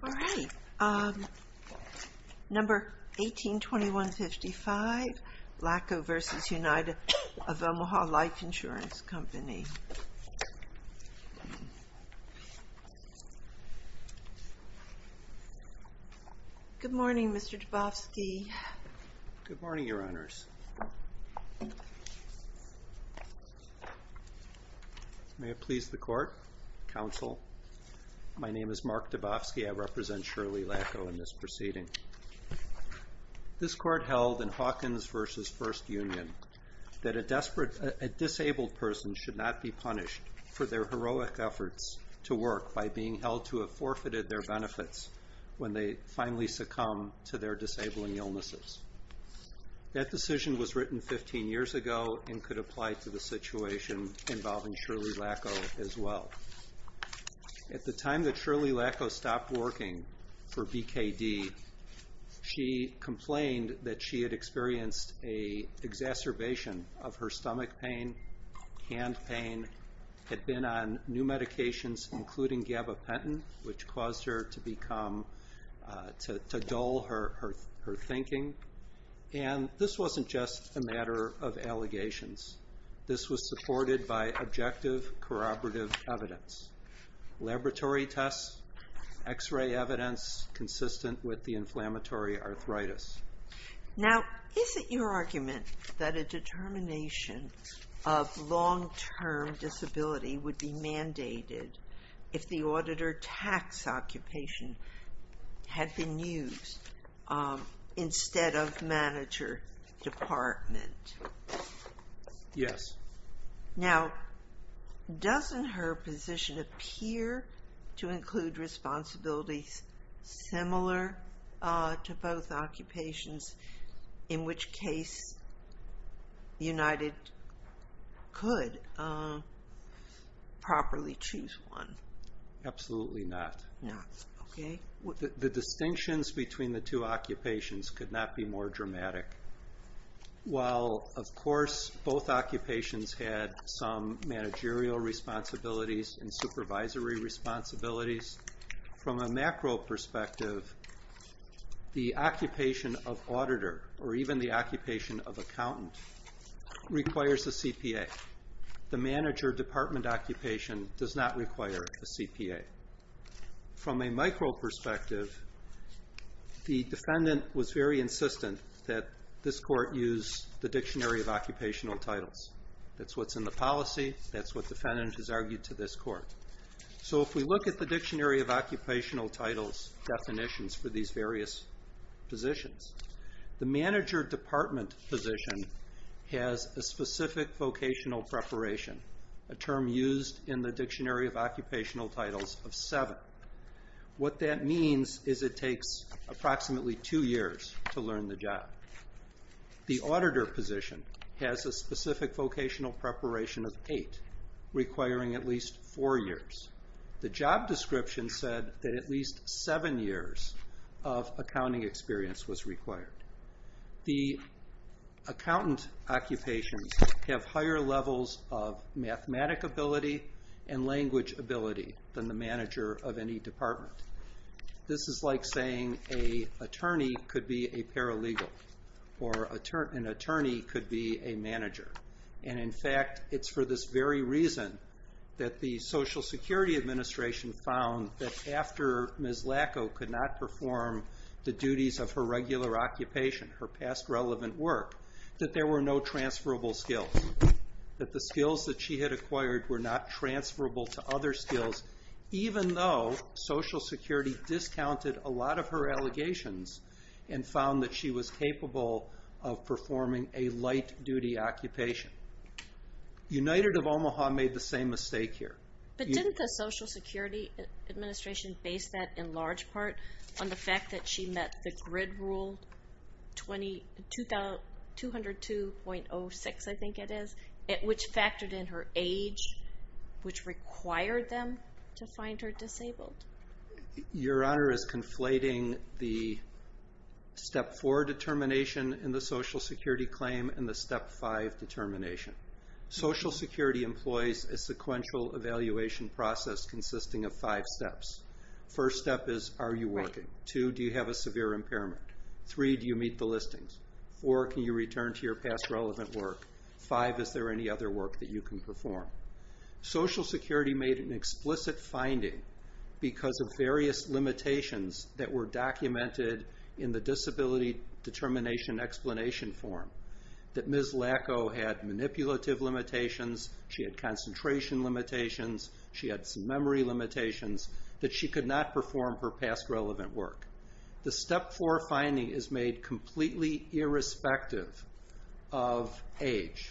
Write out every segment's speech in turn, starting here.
All right, number 182155, Lacko v. United of Omaha Life Insurance Company. Good morning, Mr. Dabofsky. Good morning, Your Honors. May it please the court, counsel. My name is Mark Dabofsky. I represent Shirley Lacko in this proceeding. This court held in Hawkins v. First Union that a desperate, a person should not be punished for their heroic efforts to work by being held to have forfeited their benefits when they finally succumb to their disabling illnesses. That decision was written 15 years ago and could apply to the situation involving Shirley Lacko as well. At the time that Shirley Lacko stopped working for BKD, she complained that she had experienced an exacerbation of her stomach pain, hand pain, had been on new medications including gabapentin, which caused her to become, to dull her thinking. And this wasn't just a matter of allegations. This was supported by objective, corroborative evidence. Laboratory tests, x-ray evidence consistent with the inflammatory arthritis. Now, is it your argument that a determination of long-term disability would be mandated if the auditor tax occupation had been used instead of manager department? Yes. Now, doesn't her position appear to include responsibilities similar to both occupations, in which case United could properly choose one? Absolutely not. The distinctions between the two occupations could not be more dramatic. While, of course, both occupations had some managerial responsibilities and supervisory responsibilities, from a macro perspective, the occupation of auditor or even the occupation of accountant requires a CPA. The manager department occupation does not require a CPA. From a micro perspective, the defendant was very insistent that this was a policy. That's what the defendant has argued to this court. So, if we look at the Dictionary of Occupational Titles definitions for these various positions, the manager department position has a specific vocational preparation, a term used in the Dictionary of Occupational Titles of seven. What that means is it takes approximately two years to learn the job. The auditor position has a specific vocational preparation of eight, requiring at least four years. The job description said that at least seven years of accounting experience was required. The accountant occupations have higher levels of mathematic ability and language ability than the manager of any department. This is like saying a attorney could be a paralegal or an attorney could be a manager. In fact, it's for this very reason that the Social Security Administration found that after Ms. Lacow could not perform the duties of her regular occupation, her past relevant work, that there were no transferable skills. That the skills that she had acquired were not transferable to other skills, even though Social Security Administration found that she was capable of performing a light duty occupation. United of Omaha made the same mistake here. But didn't the Social Security Administration base that in large part on the fact that she met the GRID Rule 202.06, I think it is, which factored in her age, which required them to find her disabled. Your Honor is conflating the Step 4 determination in the Social Security claim and the Step 5 determination. Social Security employs a sequential evaluation process consisting of five steps. First step is, are you working? Two, do you have a severe impairment? Three, do you meet the listings? Four, can you return to your past relevant work? Five, is there any other work that you can perform? Social Security made an explicit finding because of various limitations that were documented in the Disability Determination Explanation form. That Ms. Lacow had manipulative limitations, she had concentration limitations, she had some memory limitations, that she could not perform her past relevant work. The Step 4 finding is made completely irrespective of age.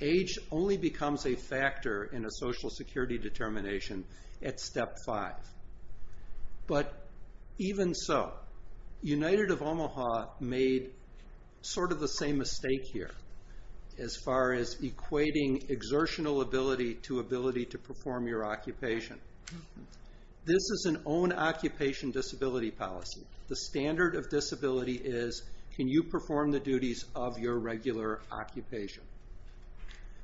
Age only becomes a factor in a Social Security determination at Step 5. But even so, United of Omaha made sort of the same mistake here as far as equating exertional ability to ability to perform your occupation. This is an own occupation disability policy. The standard of disability is, can you perform the duties of your regular occupation?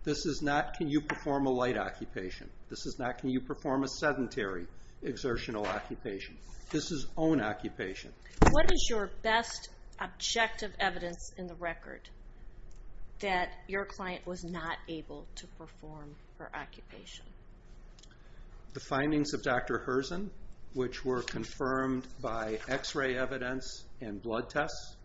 This is not, can you perform a light occupation? This is not, can you perform a sedentary exertional occupation? This is own occupation. What is your best objective evidence in the record that your client was not able to perform her occupation? The findings of Dr. Herzen, which were confirmed by x-ray evidence, and blood tests.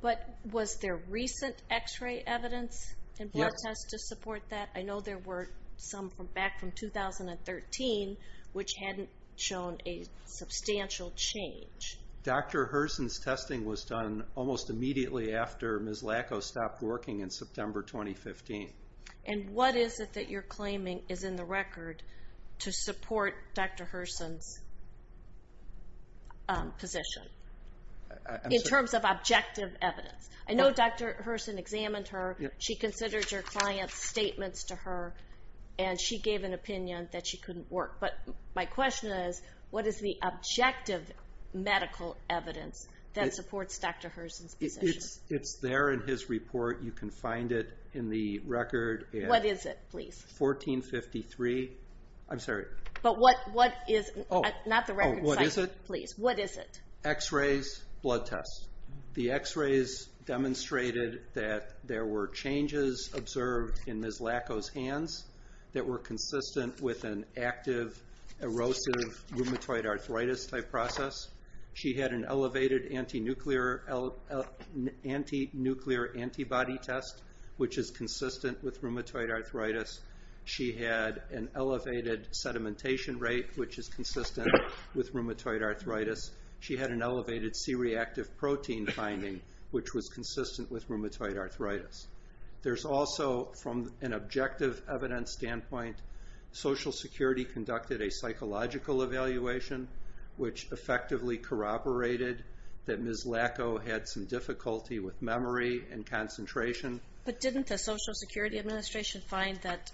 But was there recent x-ray evidence and blood tests to support that? I know there were some from back from 2013, which hadn't shown a substantial change. Dr. Herzen's testing was done almost immediately after Ms. Lacow stopped working in September 2015. And what is it that you're claiming is in the record to support Dr. Herzen's position? In terms of objective evidence. I know Dr. Herzen examined her. She considered your client's statements to her. And she gave an opinion that she couldn't work. But my question is, what is the objective medical evidence that supports Dr. Herzen's position? It's there in his report. You can find it in the record. What is it, please? 1453. I'm sorry. But what is it? Not the record site, please. What is it? X-rays, blood tests. The x-rays demonstrated that there were changes observed in Ms. Lacow's hands that were consistent with an active, erosive, rheumatoid arthritis type process. She had an elevated anti-nuclear antibody test, which is consistent with rheumatoid arthritis. She had an elevated sedimentation rate, which is consistent with rheumatoid arthritis. She had an elevated C-reactive protein finding, which was consistent with rheumatoid arthritis. There's also, from an objective evidence standpoint, Social Security conducted a psychological evaluation, which effectively corroborated that Ms. Lacow had some difficulty with memory and concentration. But didn't the Social Security Administration find that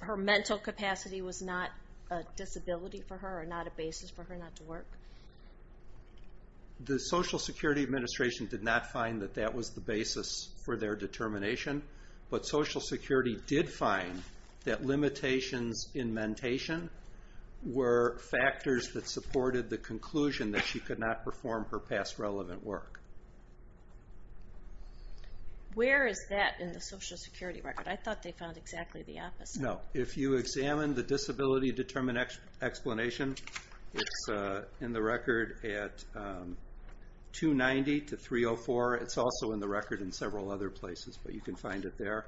her mental capacity was not a disability for her, or not a basis for her not to work? The Social Security Administration did not find that that was the basis for their determination. But Social Security did find that limitations in mentation were factors that supported the conclusion that she could not perform her past relevant work. Where is that in the Social Security record? I thought they found exactly the opposite. No, if you examine the disability determination explanation, it's in the record at 290 to 304. It's also in the record in several other places, but you can find it there.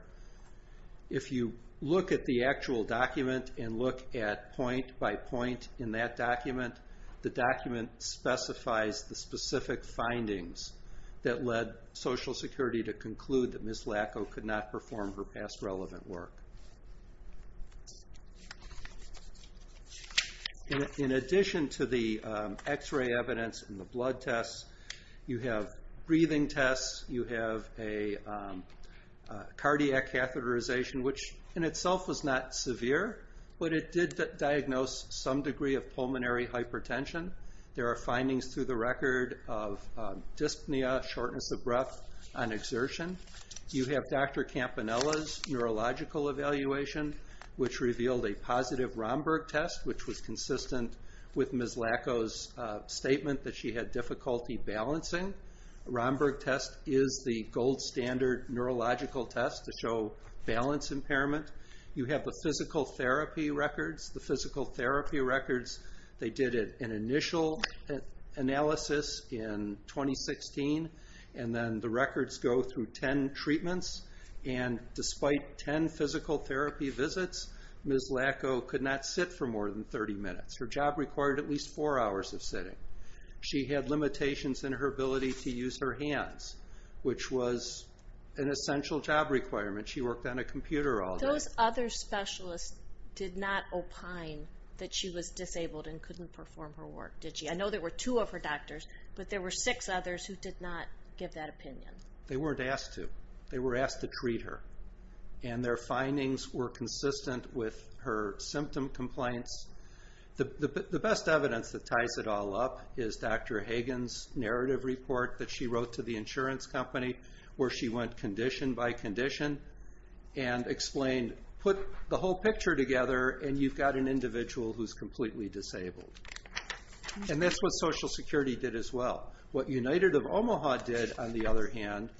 If you look at the actual document and look at point by point in that document, the document specifies the specific findings that led Social Security to conclude that Ms. Lacow could not perform her past relevant work. In addition to the x-ray evidence and the blood tests, you have breathing tests, you have a cardiac catheterization, which in itself was not severe, but it did diagnose some degree of pulmonary hypertension. There are findings through the record of dyspnea, shortness of breath, on exertion. You have Dr. Campanella's neurological evaluation, which revealed a positive Romberg test, which was consistent with Ms. Lacow's statement that she had difficulty balancing. Romberg test is the gold standard neurological test to show balance impairment. You have the physical therapy records. The physical therapy records, they did an initial analysis in 2016, and then the records go through 10 treatments, and despite 10 physical therapy visits, Ms. Lacow could not sit for more than 30 minutes. Her job required at least four hours of sitting. She had limitations in her ability to use her hands, which was an essential job requirement. She worked on a computer all day. Those other specialists did not opine that she was disabled and couldn't perform her work, did she? I know there were two of her doctors, but there were six others who did not give that opinion. They weren't asked to. They were asked to treat her, and their findings were consistent with her symptom compliance. The best evidence that ties it all up is Dr. Hagen's narrative report that she wrote to the insurance company, where she went condition by condition and explained, put the whole picture together, and you've got an individual who's completely disabled. And that's what Social Security did as well. What United of Omaha did, on the other hand,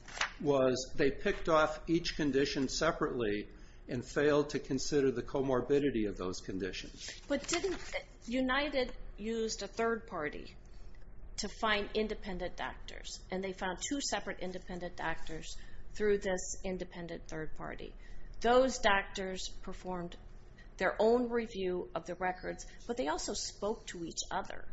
was they picked off each condition separately and failed to consider the to find independent doctors. And they found two separate independent doctors through this independent third party. Those doctors performed their own review of the records, but they also spoke to each other.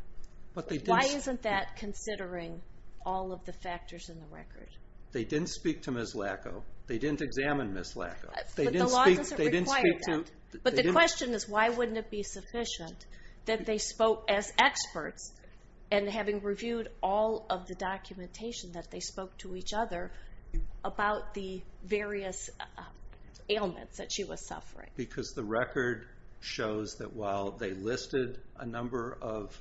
Why isn't that considering all of the factors in the record? They didn't speak to Ms. Lacow. They didn't examine Ms. Lacow. But the law doesn't require that. But the question is, why wouldn't it be sufficient that they spoke as experts, and having reviewed all of the documentation that they spoke to each other about the various ailments that she was suffering? Because the record shows that while they listed a number of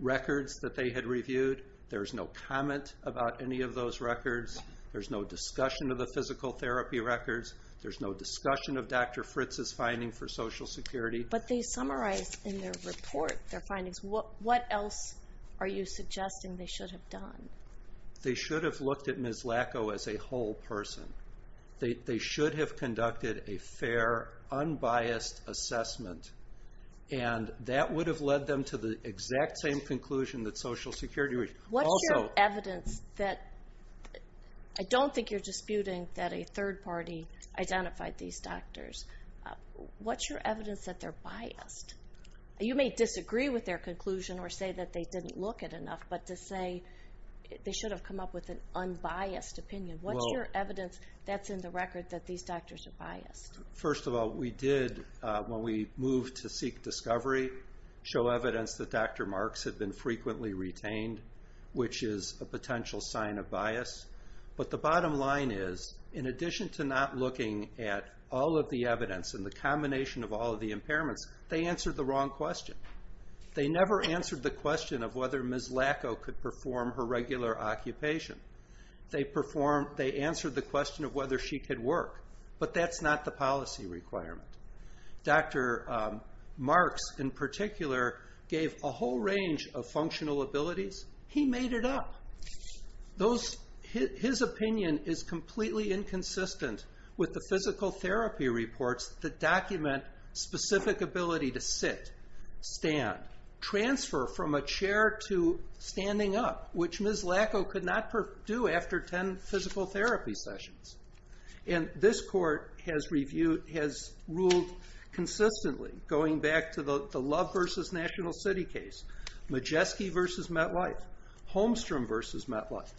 records that they had reviewed, there's no comment about any of those records. There's no discussion of the physical therapy records. There's no discussion of Dr. Fritz's finding for Social Security. But they summarized in their report their findings. What else are you suggesting they should have done? They should have looked at Ms. Lacow as a whole person. They should have conducted a fair, unbiased assessment. And that would have led them to the exact same conclusion that Social Security would. What's your evidence that... I don't think you're disputing that a third party identified these doctors. What's your evidence that they're biased? You may disagree with their conclusion or say that they didn't look at enough, but to say they should have come up with an unbiased opinion. What's your evidence that's in the record that these doctors are biased? First of all, we did, when we moved to seek discovery, show evidence that Dr. Marks had been frequently retained, which is a potential sign of bias. But the bottom line is, in addition to not looking at all of the evidence and the combination of all of the impairments, they answered the wrong question. They never answered the question of whether Ms. Lacow could perform her regular occupation. They answered the question of whether she could work. But that's not the policy requirement. Dr. Marks, in particular, gave a whole range of functional abilities. He made it up. His opinion is completely inconsistent with the physical therapy reports that document specific ability to sit, stand, transfer from a chair to standing up, which Ms. Lacow could not do after 10 physical therapy sessions. This court has ruled consistently, going back to the National City case, Majeski v. MetLife, Holmstrom v. MetLife,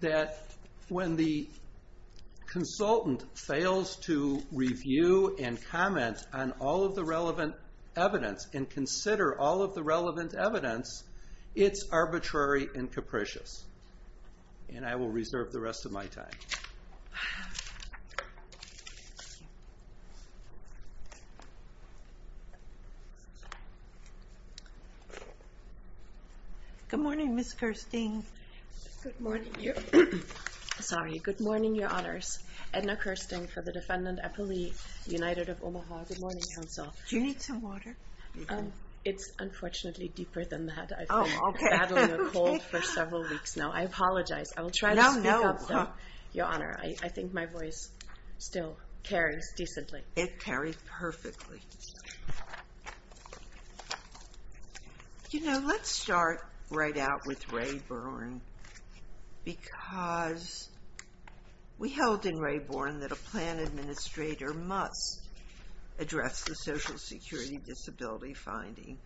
that when the consultant fails to review and comment on all of the relevant evidence and consider all of the relevant evidence, it's arbitrary and capricious. And I will reserve the rest of my time. Good morning, Ms. Kirsten. Good morning. Sorry. Good morning, Your Honors. Edna Kirsten for the defendant, Eppley, United of Omaha. Good morning, counsel. Do you need some water? It's unfortunately deeper than that. I've been battling a cold for several weeks now. I apologize. I will try to speak up, Your Honor. I think my voice still carries decently. It carries perfectly. You know, let's start right out with Ray Bourne because we held in Ray Bourne that a plan administrator must address the Social Security disability finding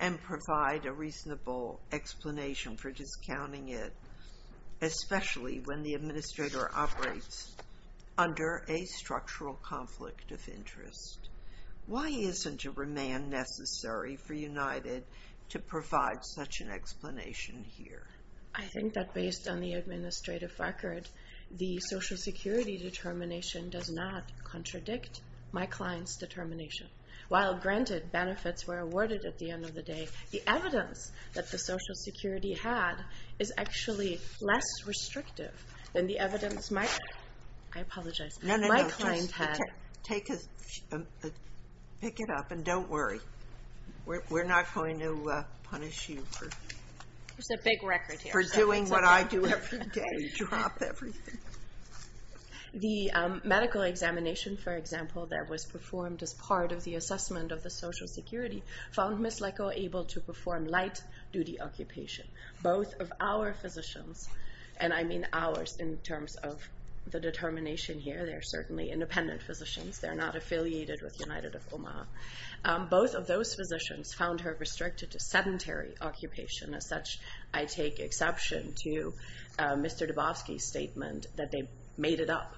and provide a reasonable explanation for discounting it, especially when the administrator operates under a structural conflict of interest. Why isn't a remand necessary for United to provide such an explanation here? I think that based on the administrative record, the Social Security determination does not contradict my client's determination. While granted benefits were awarded at the end of the day, the evidence that the Social Security was restrictive and the evidence my... I apologize. My client had... No, no, no. Pick it up and don't worry. We're not going to punish you for... There's a big record here. ...for doing what I do every day, drop everything. The medical examination, for example, that was performed as part of the assessment of the Social Security found Ms. Leko able to perform light duty occupation. Both of our physicians, and I mean ours in terms of the determination here. They're certainly independent physicians. They're not affiliated with United of Omaha. Both of those physicians found her restricted to sedentary occupation. As such, I take exception to Mr. Dubofsky's statement that they made it up.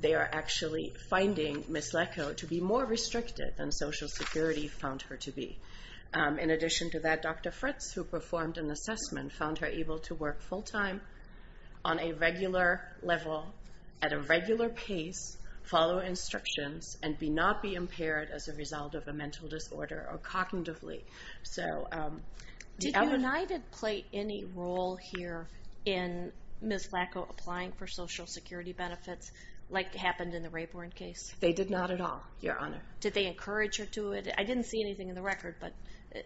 They are actually finding Ms. Leko to be more restricted than Social Security found her to be. In addition to that, Dr. Fritz, who performed an assessment, found her able to work full time on a regular level, at a regular pace, follow instructions, and be not be impaired as a result of a mental disorder or cognitively. Did United play any role here in Ms. Leko applying for Social Security benefits like happened in the Rayburn case? They did not at all, Your Honor. Did they encourage her to do it? I didn't see anything in the record, but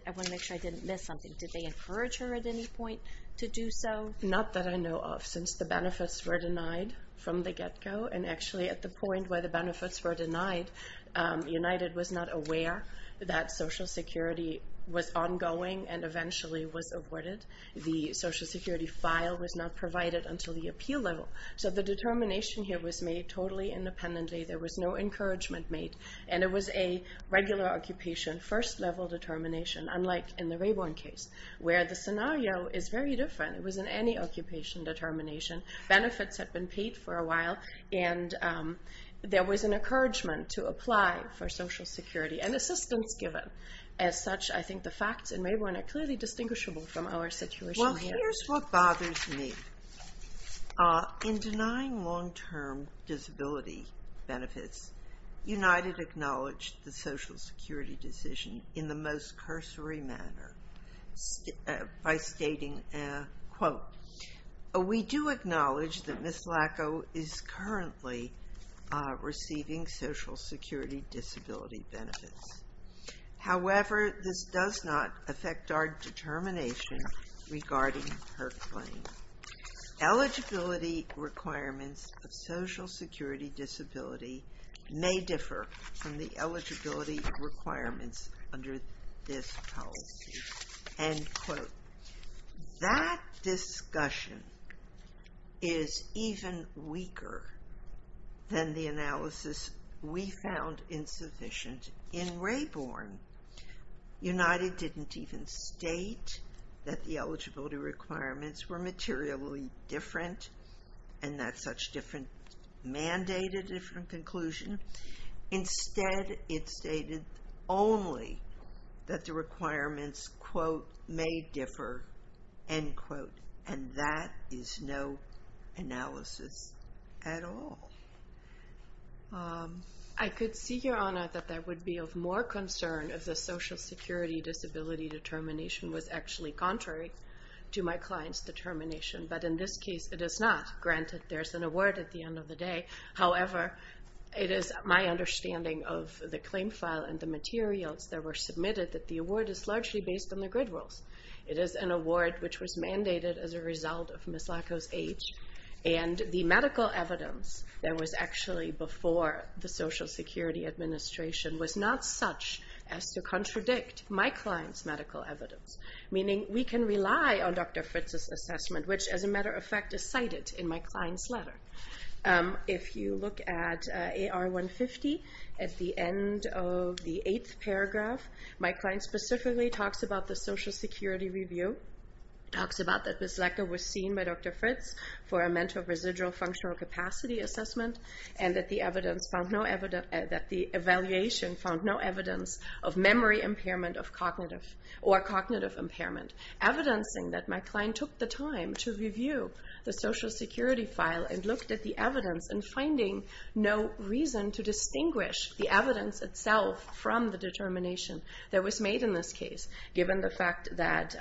I want to make sure I didn't miss something. Did they encourage her at any point to do so? Not that I know of, since the benefits were denied from the get-go. And actually, at the point where the benefits were denied, United was not aware that Social Security was ongoing and eventually was awarded. The Social Security file was not provided until the appeal level. So the determination here was made totally independently. There was no unlike in the Rayburn case, where the scenario is very different. It was in any occupation determination. Benefits had been paid for a while, and there was an encouragement to apply for Social Security, and assistance given. As such, I think the facts in Rayburn are clearly distinguishable from our situation here. Well, here's what bothers me. In denying long-term disability benefits, United acknowledged the Social Security decision in the most cursory manner, by stating, quote, we do acknowledge that Ms. Lacow is currently receiving Social Security disability benefits. However, this does not affect our determination regarding her claim. Eligibility requirements of Social Security disability may differ from the eligibility requirements under this policy. End quote. That discussion is even weaker than the analysis we found insufficient in Rayburn. United didn't even state that the eligibility requirements were materially different, and that such different mandate a different conclusion. Instead, it stated only that the requirements, quote, may differ. End quote. And that is no analysis at all. I could see, Your Honor, that there would be of more concern if the Social Security disability determination was actually contrary to my client's determination, but in this case, it is not. Granted, there's an award at the end of the day. However, it is my understanding of the claim file and the materials that were submitted that the award is largely based on the grid rules. It is an award which was mandated as a result of Ms. Lacow's age, and the medical evidence that was actually before the Social Security administration was not such as to contradict my client's medical evidence, meaning we can rely on Dr. Fritz's assessment, which, as a matter of fact, is cited in my client's letter. If you look at AR 150, at the end of the eighth paragraph, my client specifically talks about the Social Security review, talks about that Ms. Lacow was seen by Dr. Fritz for a mental residual functional capacity assessment, and that the evaluation found no evidence of memory impairment or cognitive impairment, evidencing that my client took the time to review the Social Security file and looked at the evidence and finding no reason to distinguish the evidence itself from the determination that was made in this case, given the fact that,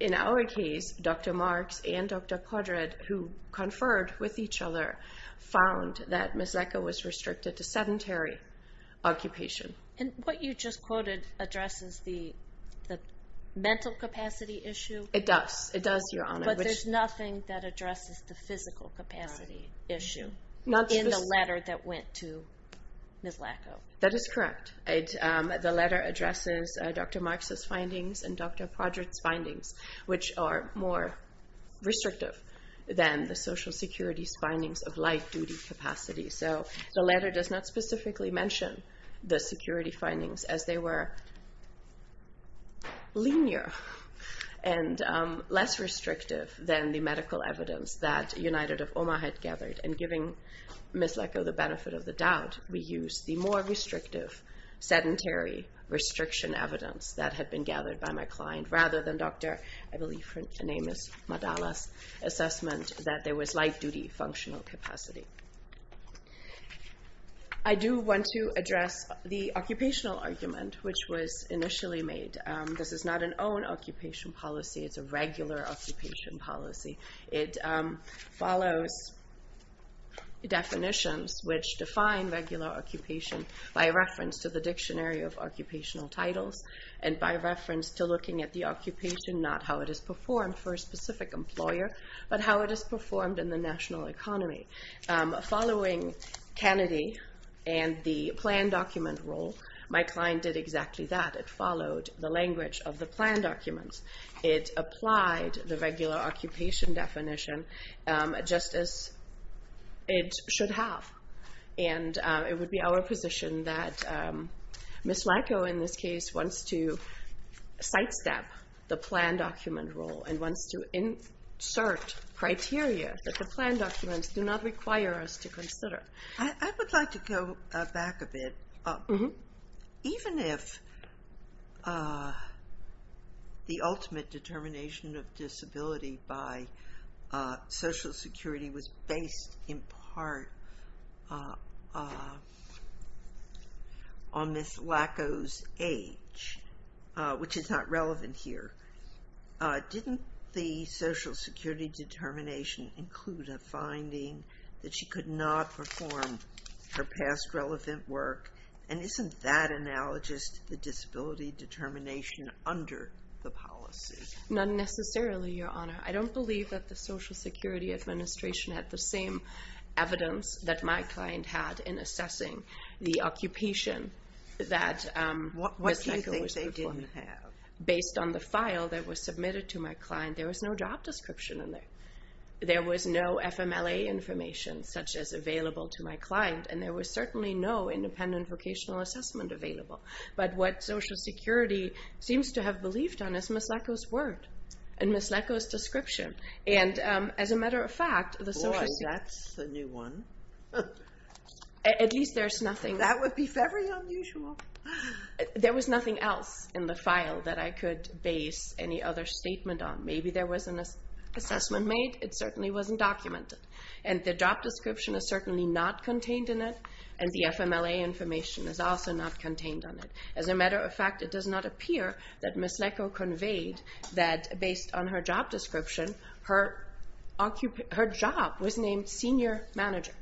in our case, Dr. Marks and Dr. Kodrad, who conferred with each other, found that Ms. Lacow was restricted to sedentary occupation. And what you just quoted addresses the mental capacity issue? It does. It does, Your Honor. But there's nothing that addresses the physical capacity issue in the letter that went to Ms. Lacow. That is correct. The letter addresses Dr. Marks's findings and Dr. Kodrad's findings, which are more restrictive than the Social Security's findings of light duty capacity. So the letter does not specifically mention the security findings as they were linear and less restrictive than the medical evidence that United of Oma had gathered. And giving Ms. Lacow the benefit of the doubt, we used the more restrictive sedentary restriction evidence that had been gathered by my client, rather than Dr. I believe her name is Madalas' assessment that there was light duty functional capacity. I do want to address the occupational argument which was initially made. This is not an own occupation policy, it's a regular occupation policy. It follows definitions which define regular occupation by reference to the dictionary of occupational titles and by reference to looking at the occupation, not how it is performed for a specific employer, but how it is performed in the national economy. Following Kennedy and the plan document rule, my client did exactly that. It followed the language of the plan documents. It applied the regular occupation definition just as it should have. And it would be our position that Ms. Lacow, in this case, wants to sidestep the plan document rule and wants to insert criteria that the plan documents do not require us to consider. I would like to go back a bit. Even if the ultimate determination of disability by social security was based in part on Ms. Lacow's age, which is not relevant here, didn't the social security determination include a finding that she could not perform her past relevant work? And isn't that analogous to the disability determination under the policy? Not necessarily, Your Honor. I don't believe that the Social Security Administration had the same evidence that my client had in assessing the occupation that Ms. Lacow was performing. What do you think they didn't have? Based on the file that was submitted to my client, there was no job description in there. There was no FMLA information, such as available to my client, and there was certainly no independent vocational assessment available. But what Social Security seems to have believed on is Ms. Lacow's word and Ms. Lacow's description. And as a matter of fact, the Social Security— Boy, that's a new one. At least there's nothing— That would be very unusual. There was nothing else in the file that I could base any other statement on. Maybe there was an assessment made. It certainly wasn't documented. And the job description is certainly not contained in it, and the FMLA information is also not contained on it. As a matter of fact, it does not appear that Ms. Lacow conveyed that based on her job description, her job was named Senior Manager.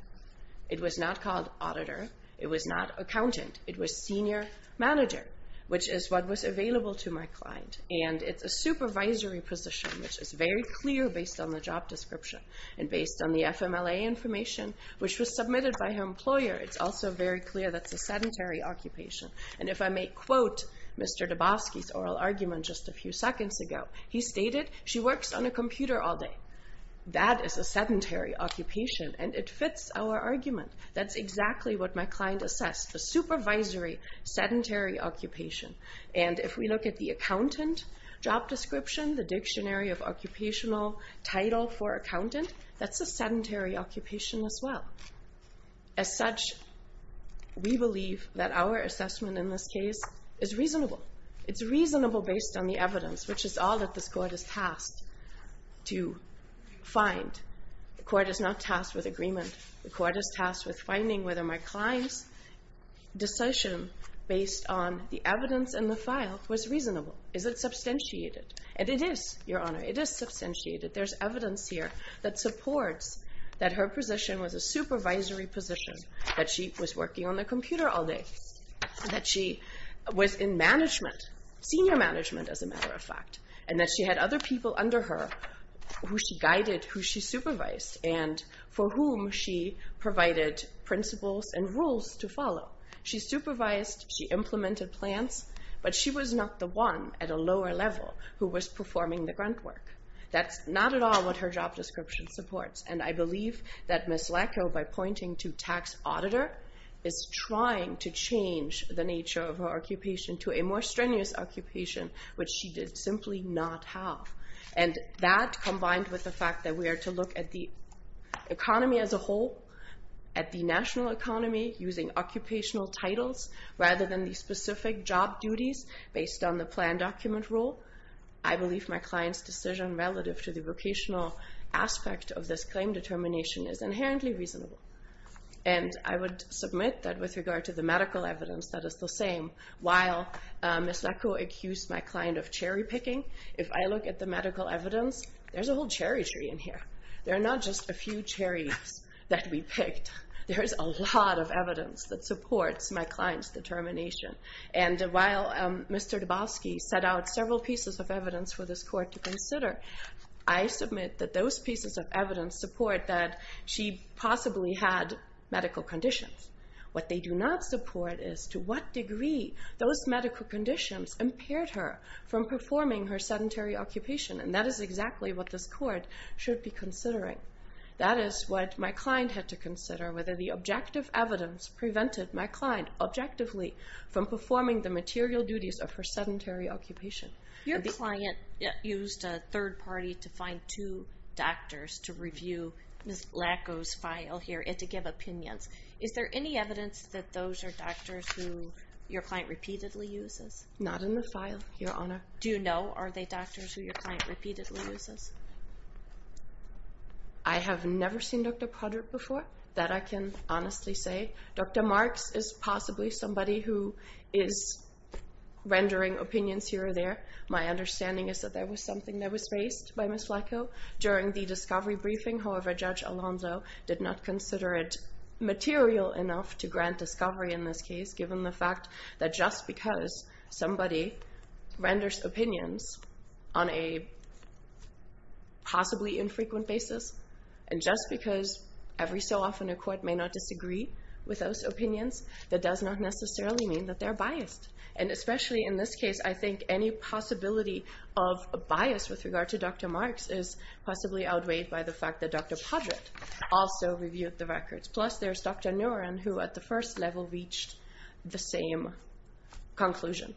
It was not called Auditor. It was not Accountant. It was Senior Manager, which is what was available to my client. And it's a supervisory position, which is very clear based on the job description and based on the FMLA information, which was submitted by her employer. It's also very clear that's a sedentary occupation. And if I may quote Mr. Dabowski's oral argument just a few seconds ago, he stated, she works on a computer all day. That is a sedentary occupation, and it fits our argument. That's exactly what my client assessed. A supervisory, sedentary occupation. And if we look at the accountant job description, the dictionary of occupational title for accountant, that's a sedentary occupation as well. As such, we believe that our assessment in this case is reasonable. It's reasonable based on the evidence, which is all that this court is tasked to find. The court is not tasked with agreement. The court is tasked with finding whether my client's decision based on the evidence in the file was reasonable. Is it substantiated? And it is, Your Honor. It is substantiated. There's evidence here that supports that her position was a supervisory position, that she was working on the computer all day, that she was in management, senior management as a matter of fact, and that she had other people under her who she guided, who she supervised, and for whom she provided principles and rules to follow. She supervised, she implemented plans, but she was not the one at a lower level who was performing the grunt work. That's not at all what her job description supports. And I believe that Ms. Lackow, by pointing to tax auditor, is trying to change the nature of her occupation to a more strenuous occupation, which she did simply not have. And that combined with the fact that we are to look at the economy as a whole, at the national economy using occupational titles rather than the specific job duties based on the plan document rule, I believe my client's decision relative to the vocational aspect of this claim determination is inherently reasonable. And I would submit that with regard to the medical evidence, that is the same. While Ms. Lackow accused my client of cherry picking, if I look at the medical evidence, there's a whole cherry tree in here. There are not just a few cherries that we picked. There's a lot of evidence that supports my client's determination. And while Mr. Dabowski set out several pieces of evidence for this court to consider, I submit that those pieces of evidence support that she possibly had medical conditions. What they do not support is to what degree those medical conditions impaired her from performing her sedentary occupation. And that is exactly what this court should be considering. That is what my client had to consider, whether the objective evidence prevented my client objectively from performing the material duties of her sedentary occupation. Your client used a third party to find two doctors to review Ms. Lackow's file here and to give opinions. Is there any evidence that those are doctors who your client repeatedly uses? Not in the file, Your Honor. Do you know? Are they doctors who your client repeatedly uses? I have never seen Dr. Potter before. That I can honestly say. Dr. Marks is possibly somebody who is rendering opinions here or there. My understanding is that there was something that was raised by Ms. Lackow during the discovery briefing. However, Judge Alonzo did not consider it material enough to grant discovery in this case, given the fact that just because somebody renders opinions on a possibly infrequent basis, and just because every so often a court may not disagree with those opinions, that does not necessarily mean that they're biased. And especially in this case, I think any possibility of bias with regard to Dr. Marks is possibly outweighed by the fact that Dr. Podrick also reviewed the records. Plus there's Dr. Noren, who at the first level reached the same conclusion.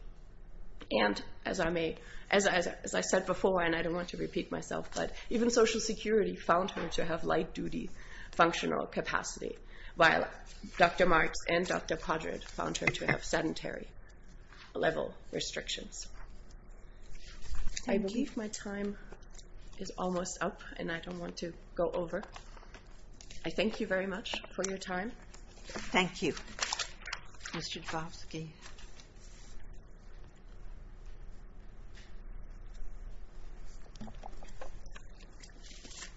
And as I said before, and I don't want to repeat myself, but even Social Security found her to have light duty functional capacity, while Dr. Marks and Dr. Podrick found her to have sedentary level restrictions. I believe my time is almost up, and I don't want to go over. I thank you very much for your time. Thank you. Mr. Glavsky.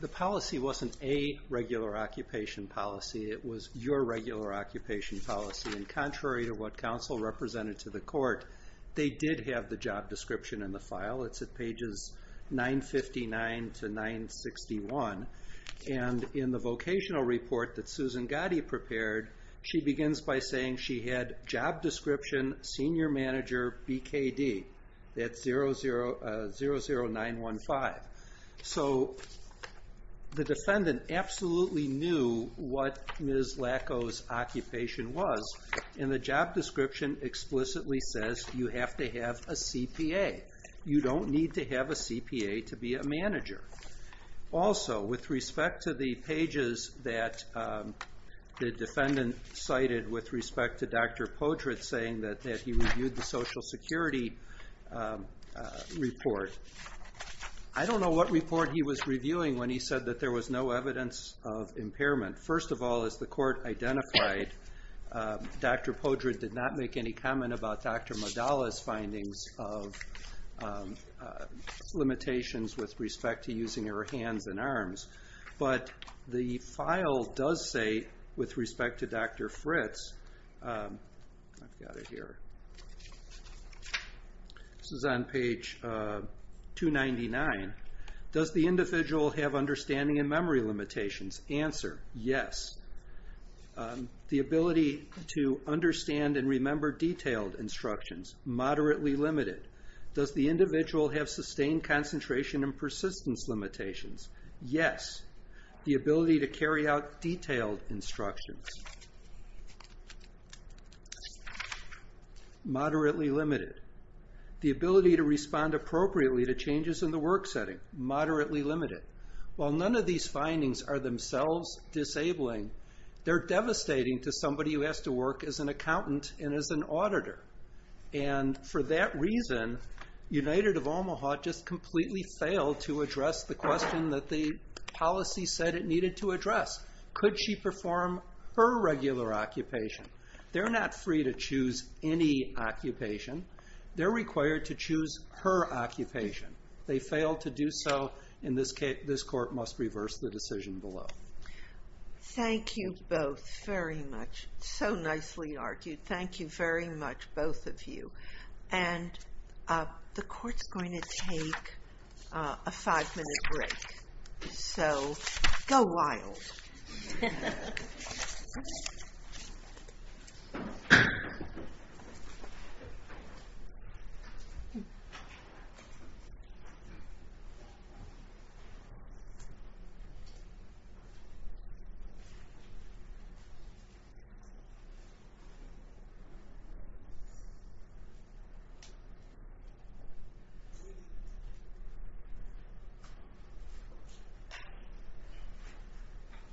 The policy wasn't a regular occupation policy. It was your regular occupation policy. And contrary to what counsel represented to the court, they did have the job description in the file. It's at pages 959 to 961. And in the vocational report that Susan Gotti prepared, she begins by saying she had job description, senior manager, BKD. That's 00915. So the defendant absolutely knew what Ms. Lacow's occupation was, and the job description explicitly says you have to have a CPA. You don't need to have a CPA to be a manager. Also, with respect to the pages that the defendant cited with respect to Dr. Podrick saying that he reviewed the Social Security report, I don't know what report he was reviewing when he said that there was no evidence of impairment. First of all, as the court identified, Dr. Podrick did not make any comment about Dr. Madala's findings of limitations with respect to using her hands and arms. But the file does say, with respect to Dr. Fritz, I've got it here. This is on page 299. Does the individual have understanding and memory limitations? Answer, yes. The ability to understand and remember detailed instructions, moderately limited. Does the individual have sustained concentration and persistence limitations? Yes. The ability to carry out detailed instructions, moderately limited. The ability to respond appropriately to changes in the work setting, moderately limited. While none of these findings are themselves disabling, they're devastating to somebody who has to work as an accountant and as an auditor. And for that reason, United of Omaha just completely failed to address the question that the policy said it needed to address. Could she perform her regular occupation? They're not free to choose any occupation. They're required to choose her occupation. They failed to do so. In this case, this court must reverse the decision below. Thank you both very much. So nicely argued. Thank you very much, both of you. And the court's going to take a five minute break. So, go wild. Thank you.